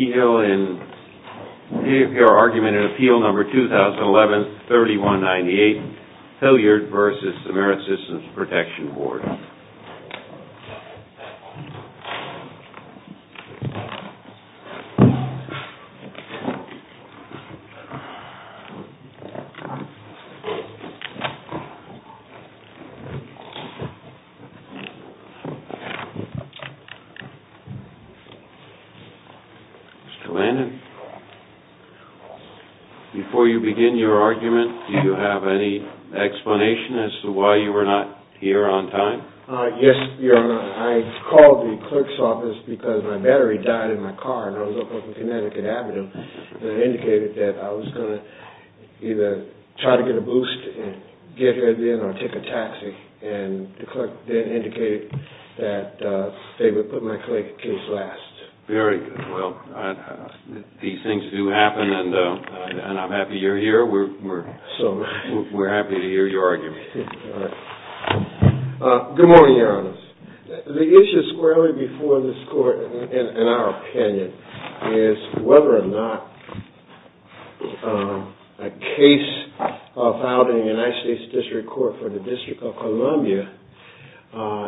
Your argument in Appeal Number 2011-3198, Hilliard v. Ameri-Systems Protection Board. Mr. Landon, before you begin your argument, do you have any explanation as to why you were not here on time? Yes, Your Honor. I called the clerk's office because my battery died in my car, and I was up on Connecticut Avenue, and it indicated that I was going to either try to get a boost and get here then or take a taxi. And the clerk then indicated that they would put my case last. Very good. Well, these things do happen, and I'm happy you're here. We're happy to hear your argument. Good morning, Your Honors. The issue squarely before this Court, in our opinion, is whether or not a case filed in the United States District Court for the District of Columbia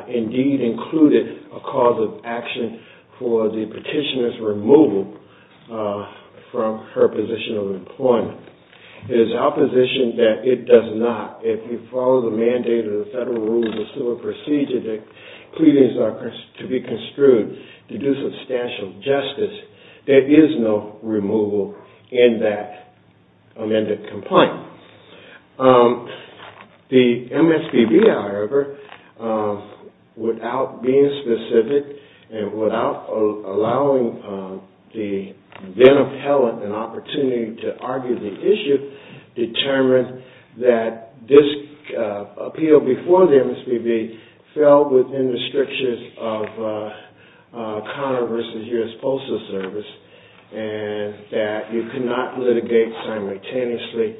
indeed included a cause of action for the petitioner's removal from her position of employment. It is our position that it does not. If you follow the mandate of the Federal Rules of Civil Procedure that pleadings are to be construed to do substantial justice, there is no removal in that amended complaint. The MSPB, however, without being specific and without allowing the then-appellant an opportunity to argue the issue, determined that this appeal before the MSPB fell within the strictures of Connor v. U.S. Postal Service and that you cannot litigate simultaneously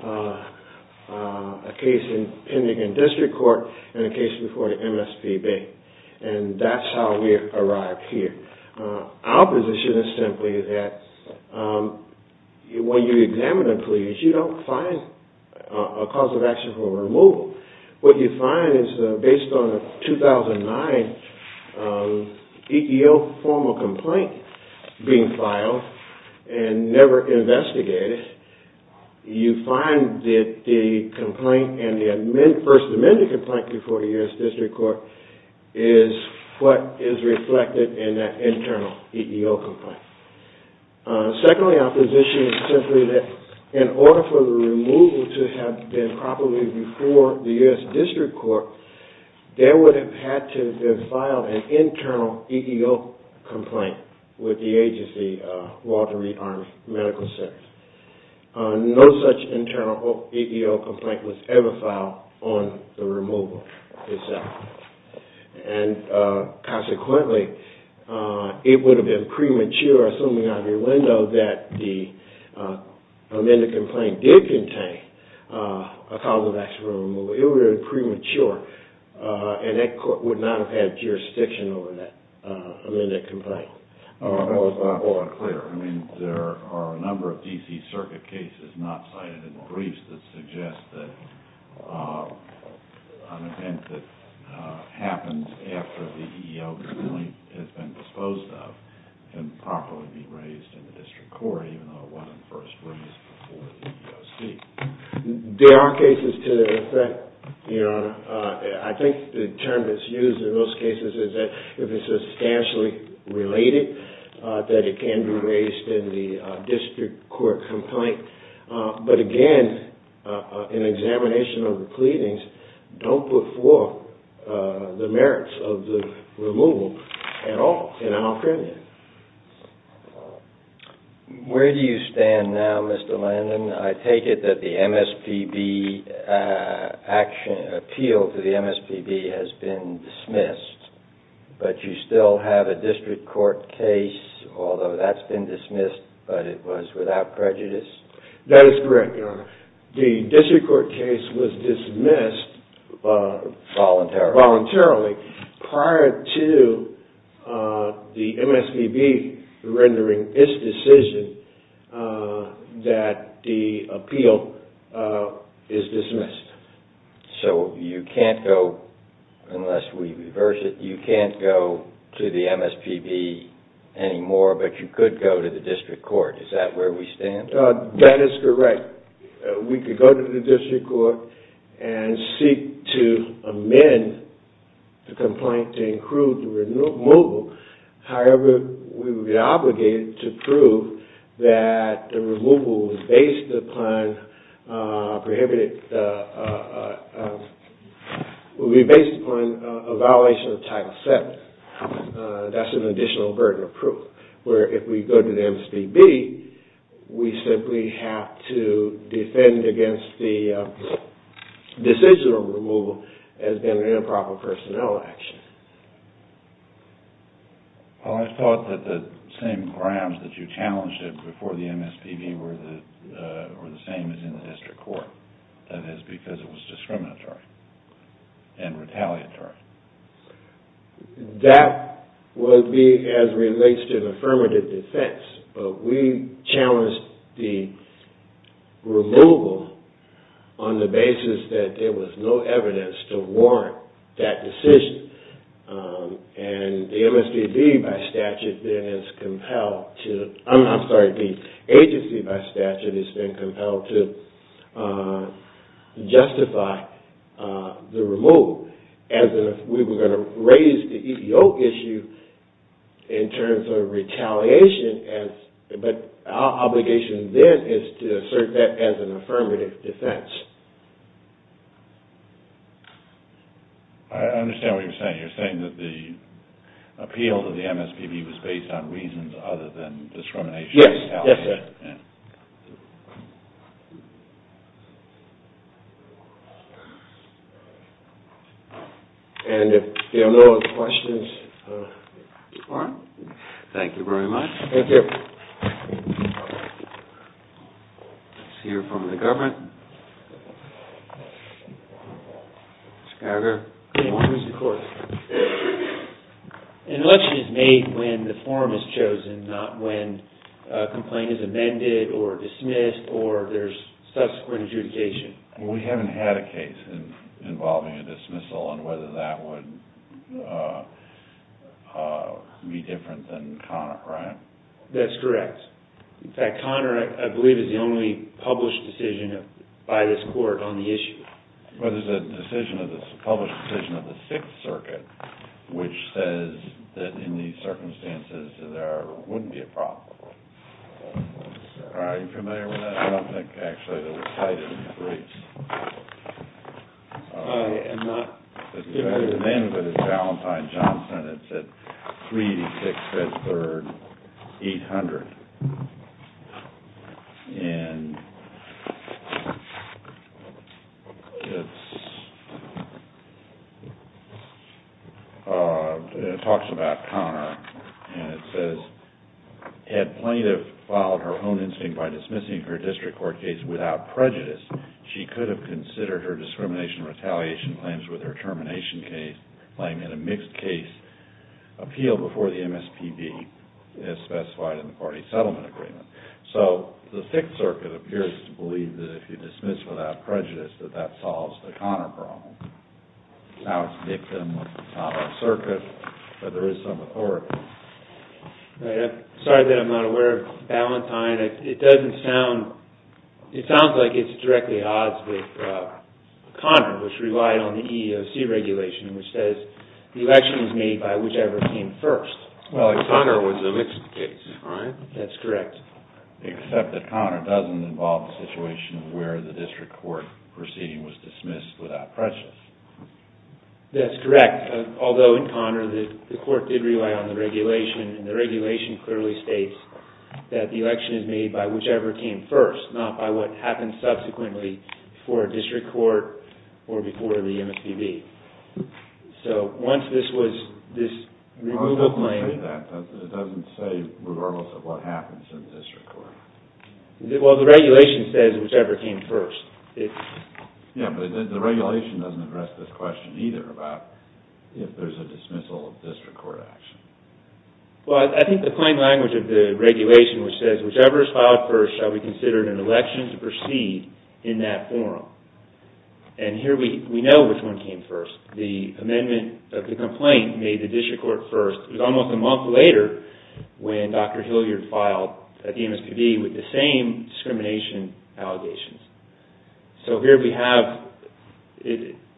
a case pending in District Court and a case before the MSPB. And that's how we arrived here. Our position is simply that when you examine a plea, you don't find a cause of action for removal. What you find is that based on a 2009 EEO formal complaint being filed and never investigated, you find that the complaint and the first amended complaint before the U.S. District Court is what is reflected in that internal EEO complaint. Secondly, our position is simply that in order for the removal to have been properly before the U.S. District Court, there would have had to have been filed an internal EEO complaint with the agency, Walter Reed Arms Medical Center. No such internal EEO complaint was ever filed on the removal itself. And consequently, it would have been premature, assuming out of your window, that the amended complaint did contain a cause of action for removal. It would have been premature and that court would not have had jurisdiction over that amended complaint. Hold on, hold on. Clear. I mean, there are a number of D.C. Circuit cases not cited in the briefs that suggest that an event that happens after the EEO complaint has been disposed of can properly be raised in the District Court, even though it wasn't first raised before the EEOC. There are cases to the effect, Your Honor. I think the term that's used in those cases is that if it's substantially related, that it can be raised in the District Court complaint. But again, an examination of the pleadings don't put forth the merits of the removal at all in our opinion. Where do you stand now, Mr. Landon? I take it that the MSPB action, appeal to the MSPB has been dismissed, but you still have a District Court case, although that's been dismissed, but it was without prejudice? That is correct, Your Honor. The District Court case was dismissed voluntarily prior to the MSPB rendering its decision that the appeal is dismissed. So you can't go, unless we reverse it, you can't go to the MSPB anymore, but you could go to the District Court. Is that where we stand? That is correct. We could go to the District Court and seek to amend the complaint to include the removal. However, we would be obligated to prove that the removal would be based upon a violation of Title VII. That's an additional burden of proof. Where if we go to the MSPB, we simply have to defend against the decisional removal as being an improper personnel action. I thought that the same grounds that you challenged before the MSPB were the same as in the District Court. That is because it was discriminatory and retaliatory. That would be as relates to affirmative defense, but we challenged the removal on the basis that there was no evidence to warrant that decision. The agency by statute has been compelled to justify the removal. We were going to raise the EEO issue in terms of retaliation, but our obligation then is to assert that as an affirmative defense. I understand what you're saying. You're saying that the appeal to the MSPB was based on reasons other than discrimination and retaliation. Yes. If there are no other questions, we'll move on. Thank you very much. Thank you. An election is made when the form is chosen, not when a complaint is amended or dismissed or there's subsequent adjudication. We haven't had a case involving a dismissal on whether that would be different than Connor, right? That's correct. In fact, Connor, I believe, is the only published decision by this court on the issue. There's a published decision of the Sixth Circuit which says that in these circumstances, there wouldn't be a problem. Are you familiar with that? I don't think, actually, that was cited in the briefs. The name of it is Valentine-Johnson. It's at 386 Fifth Street, 800. It talks about Connor and it says, Had plaintiff filed her own instinct by dismissing her district court case without prejudice, she could have considered her discrimination and retaliation claims with her termination claim in a mixed-case appeal before the MSPB, as specified in the party settlement agreement. So the Sixth Circuit appears to believe that if you dismiss without prejudice, that that solves the Connor problem. Now, it's a victim of the solid circuit, but there is some authority. Sorry that I'm not aware of Valentine. It sounds like it's directly at odds with Connor, which relied on the EEOC regulation, which says the election is made by whichever came first. Well, Connor was a mixed case, right? That's correct. Except that Connor doesn't involve the situation where the district court proceeding was dismissed without prejudice. That's correct. Although in Connor, the court did rely on the regulation, and the regulation clearly states that the election is made by whichever came first, not by what happened subsequently before a district court or before the MSPB. So once this was, this removal claim... Well, the regulation says whichever came first. Yeah, but the regulation doesn't address this question either about if there's a dismissal of district court action. Well, I think the plain language of the regulation, which says whichever is filed first shall be considered an election to proceed in that forum. And here we know which one came first. The amendment of the complaint made the district court first. It was almost a month later when Dr. Hilliard filed at the MSPB with the same discrimination allegations. So here we have...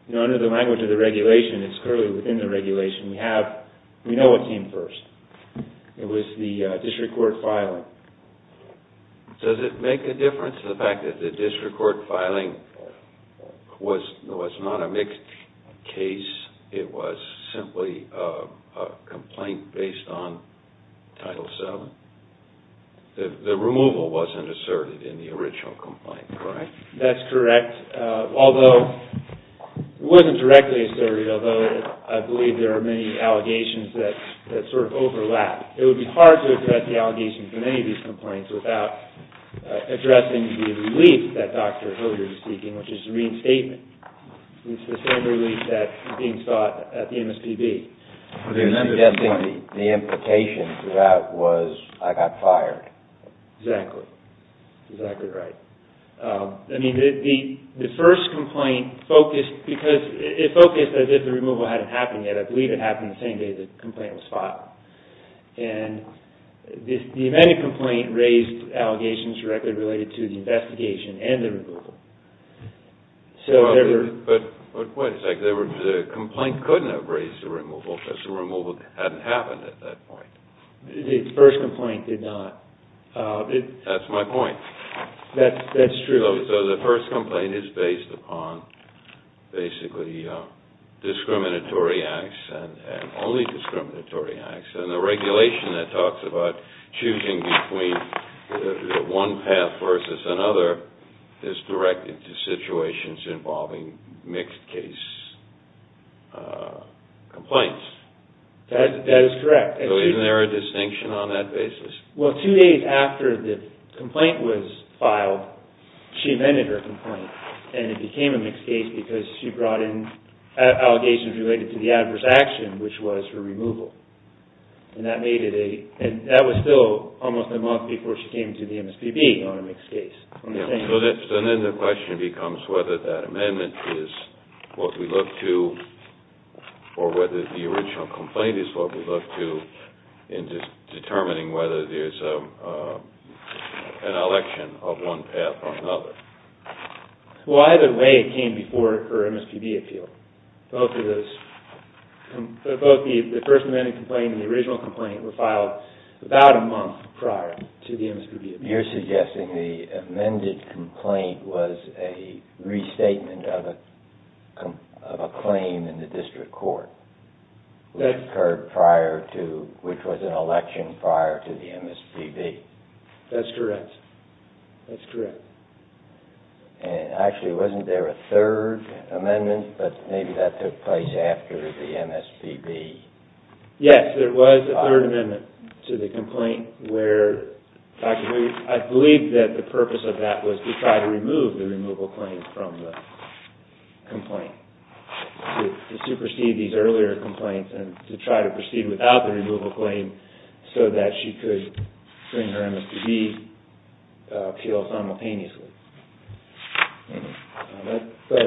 You know, under the language of the regulation, it's clearly within the regulation. We have... We know what came first. It was the district court filing. Does it make a difference to the fact that the district court filing was not a mixed case? It was simply a complaint based on Title VII? The removal wasn't asserted in the original complaint, correct? That's correct, although it wasn't directly asserted, although I believe there are many allegations that sort of overlap. It would be hard to address the allegations in any of these complaints without addressing the relief that Dr. Hilliard is seeking, which is reinstatement. It's the same relief that is being sought at the MSPB. You're suggesting the implication throughout was, I got fired. Exactly. Exactly right. I mean, the first complaint focused... Because it focused as if the removal hadn't happened yet. I believe it happened the same day the complaint was filed. And the amended complaint raised allegations directly related to the investigation and the removal. But wait a second, the complaint couldn't have raised the removal because the removal hadn't happened at that point. The first complaint did not. That's my point. That's true. So the first complaint is based upon basically discriminatory acts, and only discriminatory acts, and the regulation that talks about choosing between one path versus another is directed to situations involving mixed case complaints. That is correct. So isn't there a distinction on that basis? Well, two days after the complaint was filed, she amended her complaint. And it became a mixed case because she brought in allegations related to the adverse action, which was her removal. And that was still almost a month before she came to the MSPB on a mixed case. So then the question becomes whether that amendment is what we look to, or whether the original complaint is what we look to, in determining whether there's an election of one path or another. Well, either way it came before her MSPB appeal. Both the first amended complaint and the original complaint were filed about a month prior to the MSPB appeal. You're suggesting the amended complaint was a restatement of a claim in the district court, which occurred prior to, which was an election prior to the MSPB. That's correct. That's correct. Actually, wasn't there a third amendment? But maybe that took place after the MSPB. Yes, there was a third amendment to the complaint where, I believe that the purpose of that was to try to remove the removal claim from the complaint. To supersede these earlier complaints and to try to proceed without the removal claim so that she could bring her MSPB appeal simultaneously. But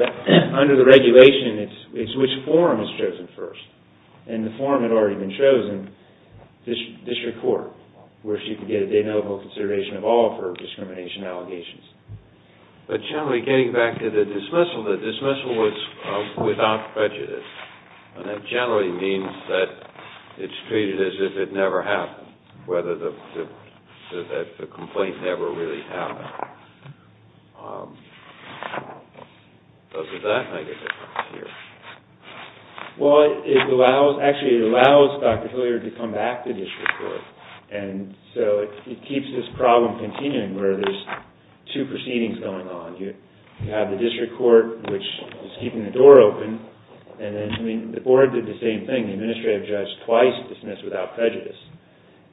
under the regulation, it's which forum is chosen first. The second forum had already been chosen, district court, where she could get a de novo consideration of all of her discrimination allegations. But generally, getting back to the dismissal, the dismissal was without prejudice. And that generally means that it's treated as if it never happened, whether the complaint never really happened. Does that make a difference here? Well, it allows, actually it allows Dr. Hilliard to come back to district court. And so it keeps this problem continuing where there's two proceedings going on. You have the district court, which is keeping the door open. And then the board did the same thing. The administrative judge twice dismissed without prejudice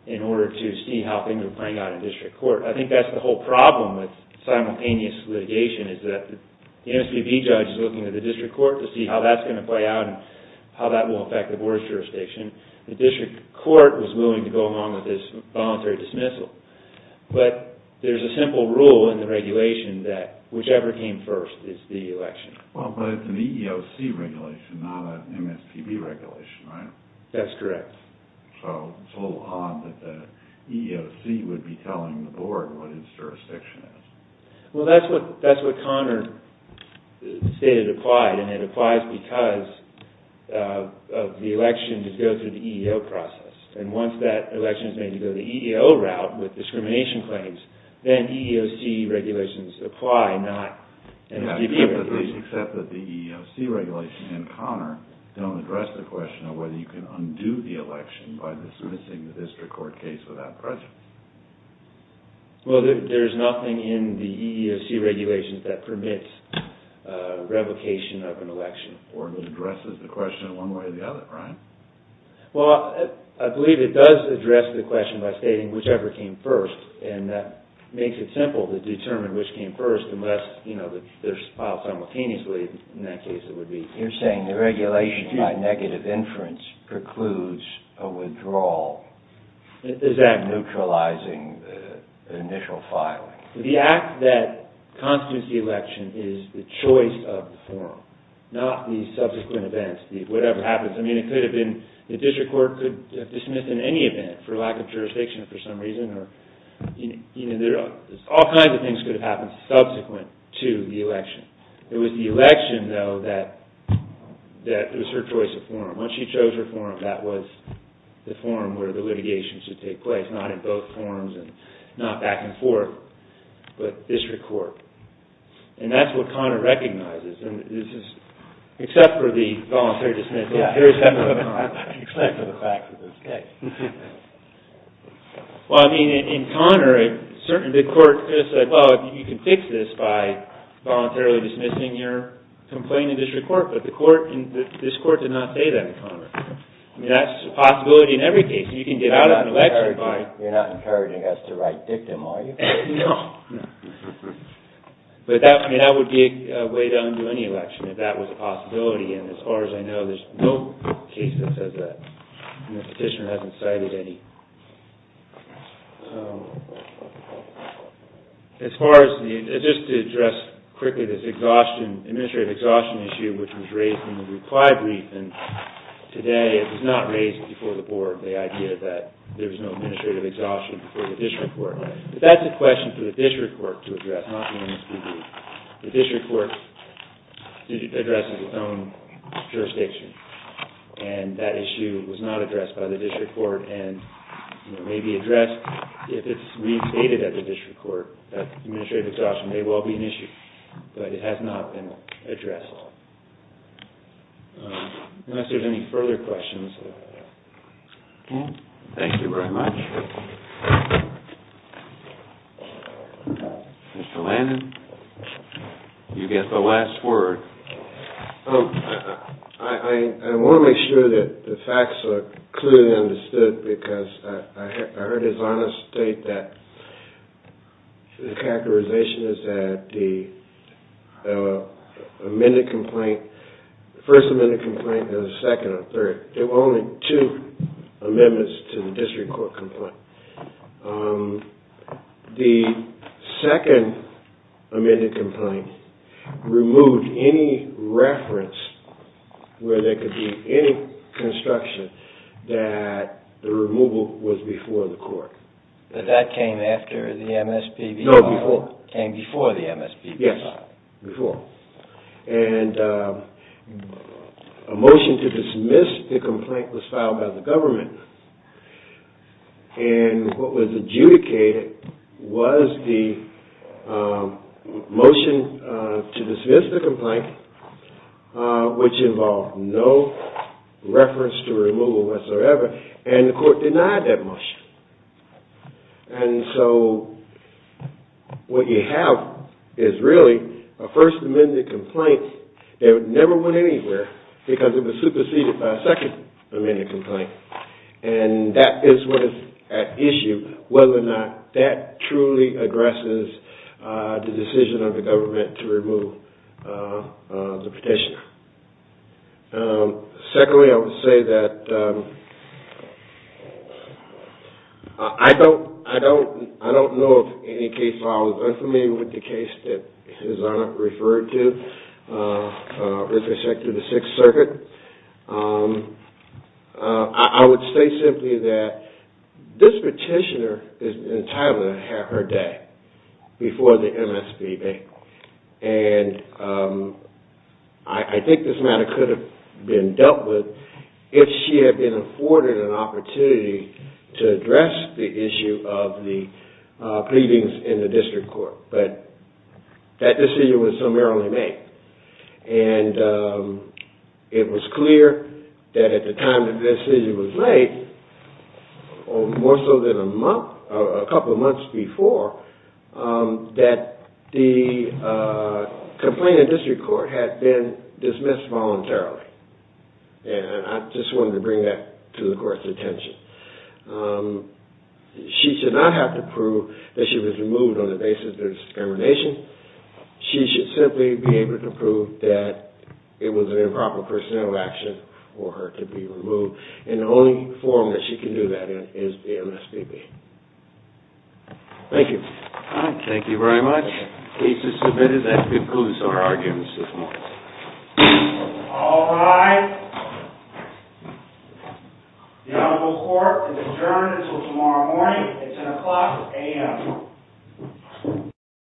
in order to see how things were playing out in district court. I think that's the whole problem with simultaneous litigation is that the MSPB judge is looking at the district court to see how that's going to play out and how that will affect the board's jurisdiction. The district court was willing to go along with this voluntary dismissal. But there's a simple rule in the regulation that whichever came first is the election. Well, but it's an EEOC regulation, not an MSPB regulation, right? That's correct. So it's a little odd that the EEOC would be telling the board what its jurisdiction is. Well, that's what Connor stated applied, and it applies because of the election to go through the EEO process. And once that election is made to go the EEO route with discrimination claims, then EEOC regulations apply, not MSPB regulations. Except that the EEOC regulation and Connor don't address the question of whether you can undo the election by dismissing the district court case without prejudice. Well, there's nothing in the EEOC regulations that permits revocation of an election. Or addresses the question one way or the other, right? Well, I believe it does address the question by stating whichever came first, and that makes it simple to determine which came first unless they're filed simultaneously. In that case, it would be... You're saying the regulation by negative inference precludes a withdrawal. Is that... Neutralizing the initial filing. The act that constitutes the election is the choice of the forum, not the subsequent events, whatever happens. I mean, it could have been the district court could have dismissed in any event for lack of jurisdiction for some reason, or all kinds of things could have happened subsequent to the election. It was the election, though, that was her choice of forum. Once she chose her forum, that was the forum where the litigation should take place, not in both forums and not back and forth, but district court. And that's what Connor recognizes. And this is... Except for the voluntary dismissal. Yeah, except for the fact of the case. Well, I mean, in Connor, the court could have said, well, you can fix this by voluntarily dismissing your complaint in district court, but this court did not say that in Connor. I mean, that's a possibility in every case. You can get out of an election by... You're not encouraging us to write dictum, are you? No. But that would be a way to undo any election, if that was a possibility. And as far as I know, there's no case that says that. And the petitioner hasn't cited any. As far as the... Just to address quickly this exhaustion, administrative exhaustion issue, which was raised in the reply brief, and today it was not raised before the board, the idea that there was no administrative exhaustion before the district court. But that's a question for the district court to address, not the MSPB. The district court addresses its own jurisdiction, and that issue was not addressed by the district court, and may be addressed if it's reinstated at the district court. Administrative exhaustion may well be an issue, but it has not been addressed. Unless there's any further questions. Thank you very much. Mr. Landon, you get the last word. I want to make sure that the facts are clearly understood, because I heard His Honor state that the characterization is that the amended complaint, the first amended complaint and the second and third, there were only two amendments to the district court complaint. The second amended complaint removed any reference where there could be any construction that the removal was before the court. But that came after the MSPB file? No, before. It came before the MSPB file? Yes, before. And a motion to dismiss the complaint was filed by the government, and what was adjudicated was the motion to dismiss the complaint, which involved no reference to removal whatsoever, and the court denied that motion. And so what you have is really a first amended complaint that never went anywhere, because it was superseded by a second amended complaint. And that is what is at issue, whether or not that truly addresses the decision of the government to remove the petitioner. Secondly, I would say that I don't know of any case where I was unfamiliar with the case that His Honor referred to with respect to the Sixth Circuit. I would say simply that this petitioner is entitled to have her day before the MSPB, and I think this matter could have been dealt with if she had been afforded an opportunity to address the issue of the pleadings in the district court. But that decision was summarily made, and it was clear that at the time the decision was made, more so than a couple of months before, that the complaint in the district court had been dismissed voluntarily. And I just wanted to bring that to the court's attention. She should not have to prove that she was removed on the basis of discrimination. She should simply be able to prove that it was an improper personal action for her to be removed. And the only forum that she can do that in is the MSPB. Thank you. Thank you very much. The case is submitted. That concludes our arguments this morning. All rise. The Honorable Court is adjourned until tomorrow morning at 10 o'clock a.m.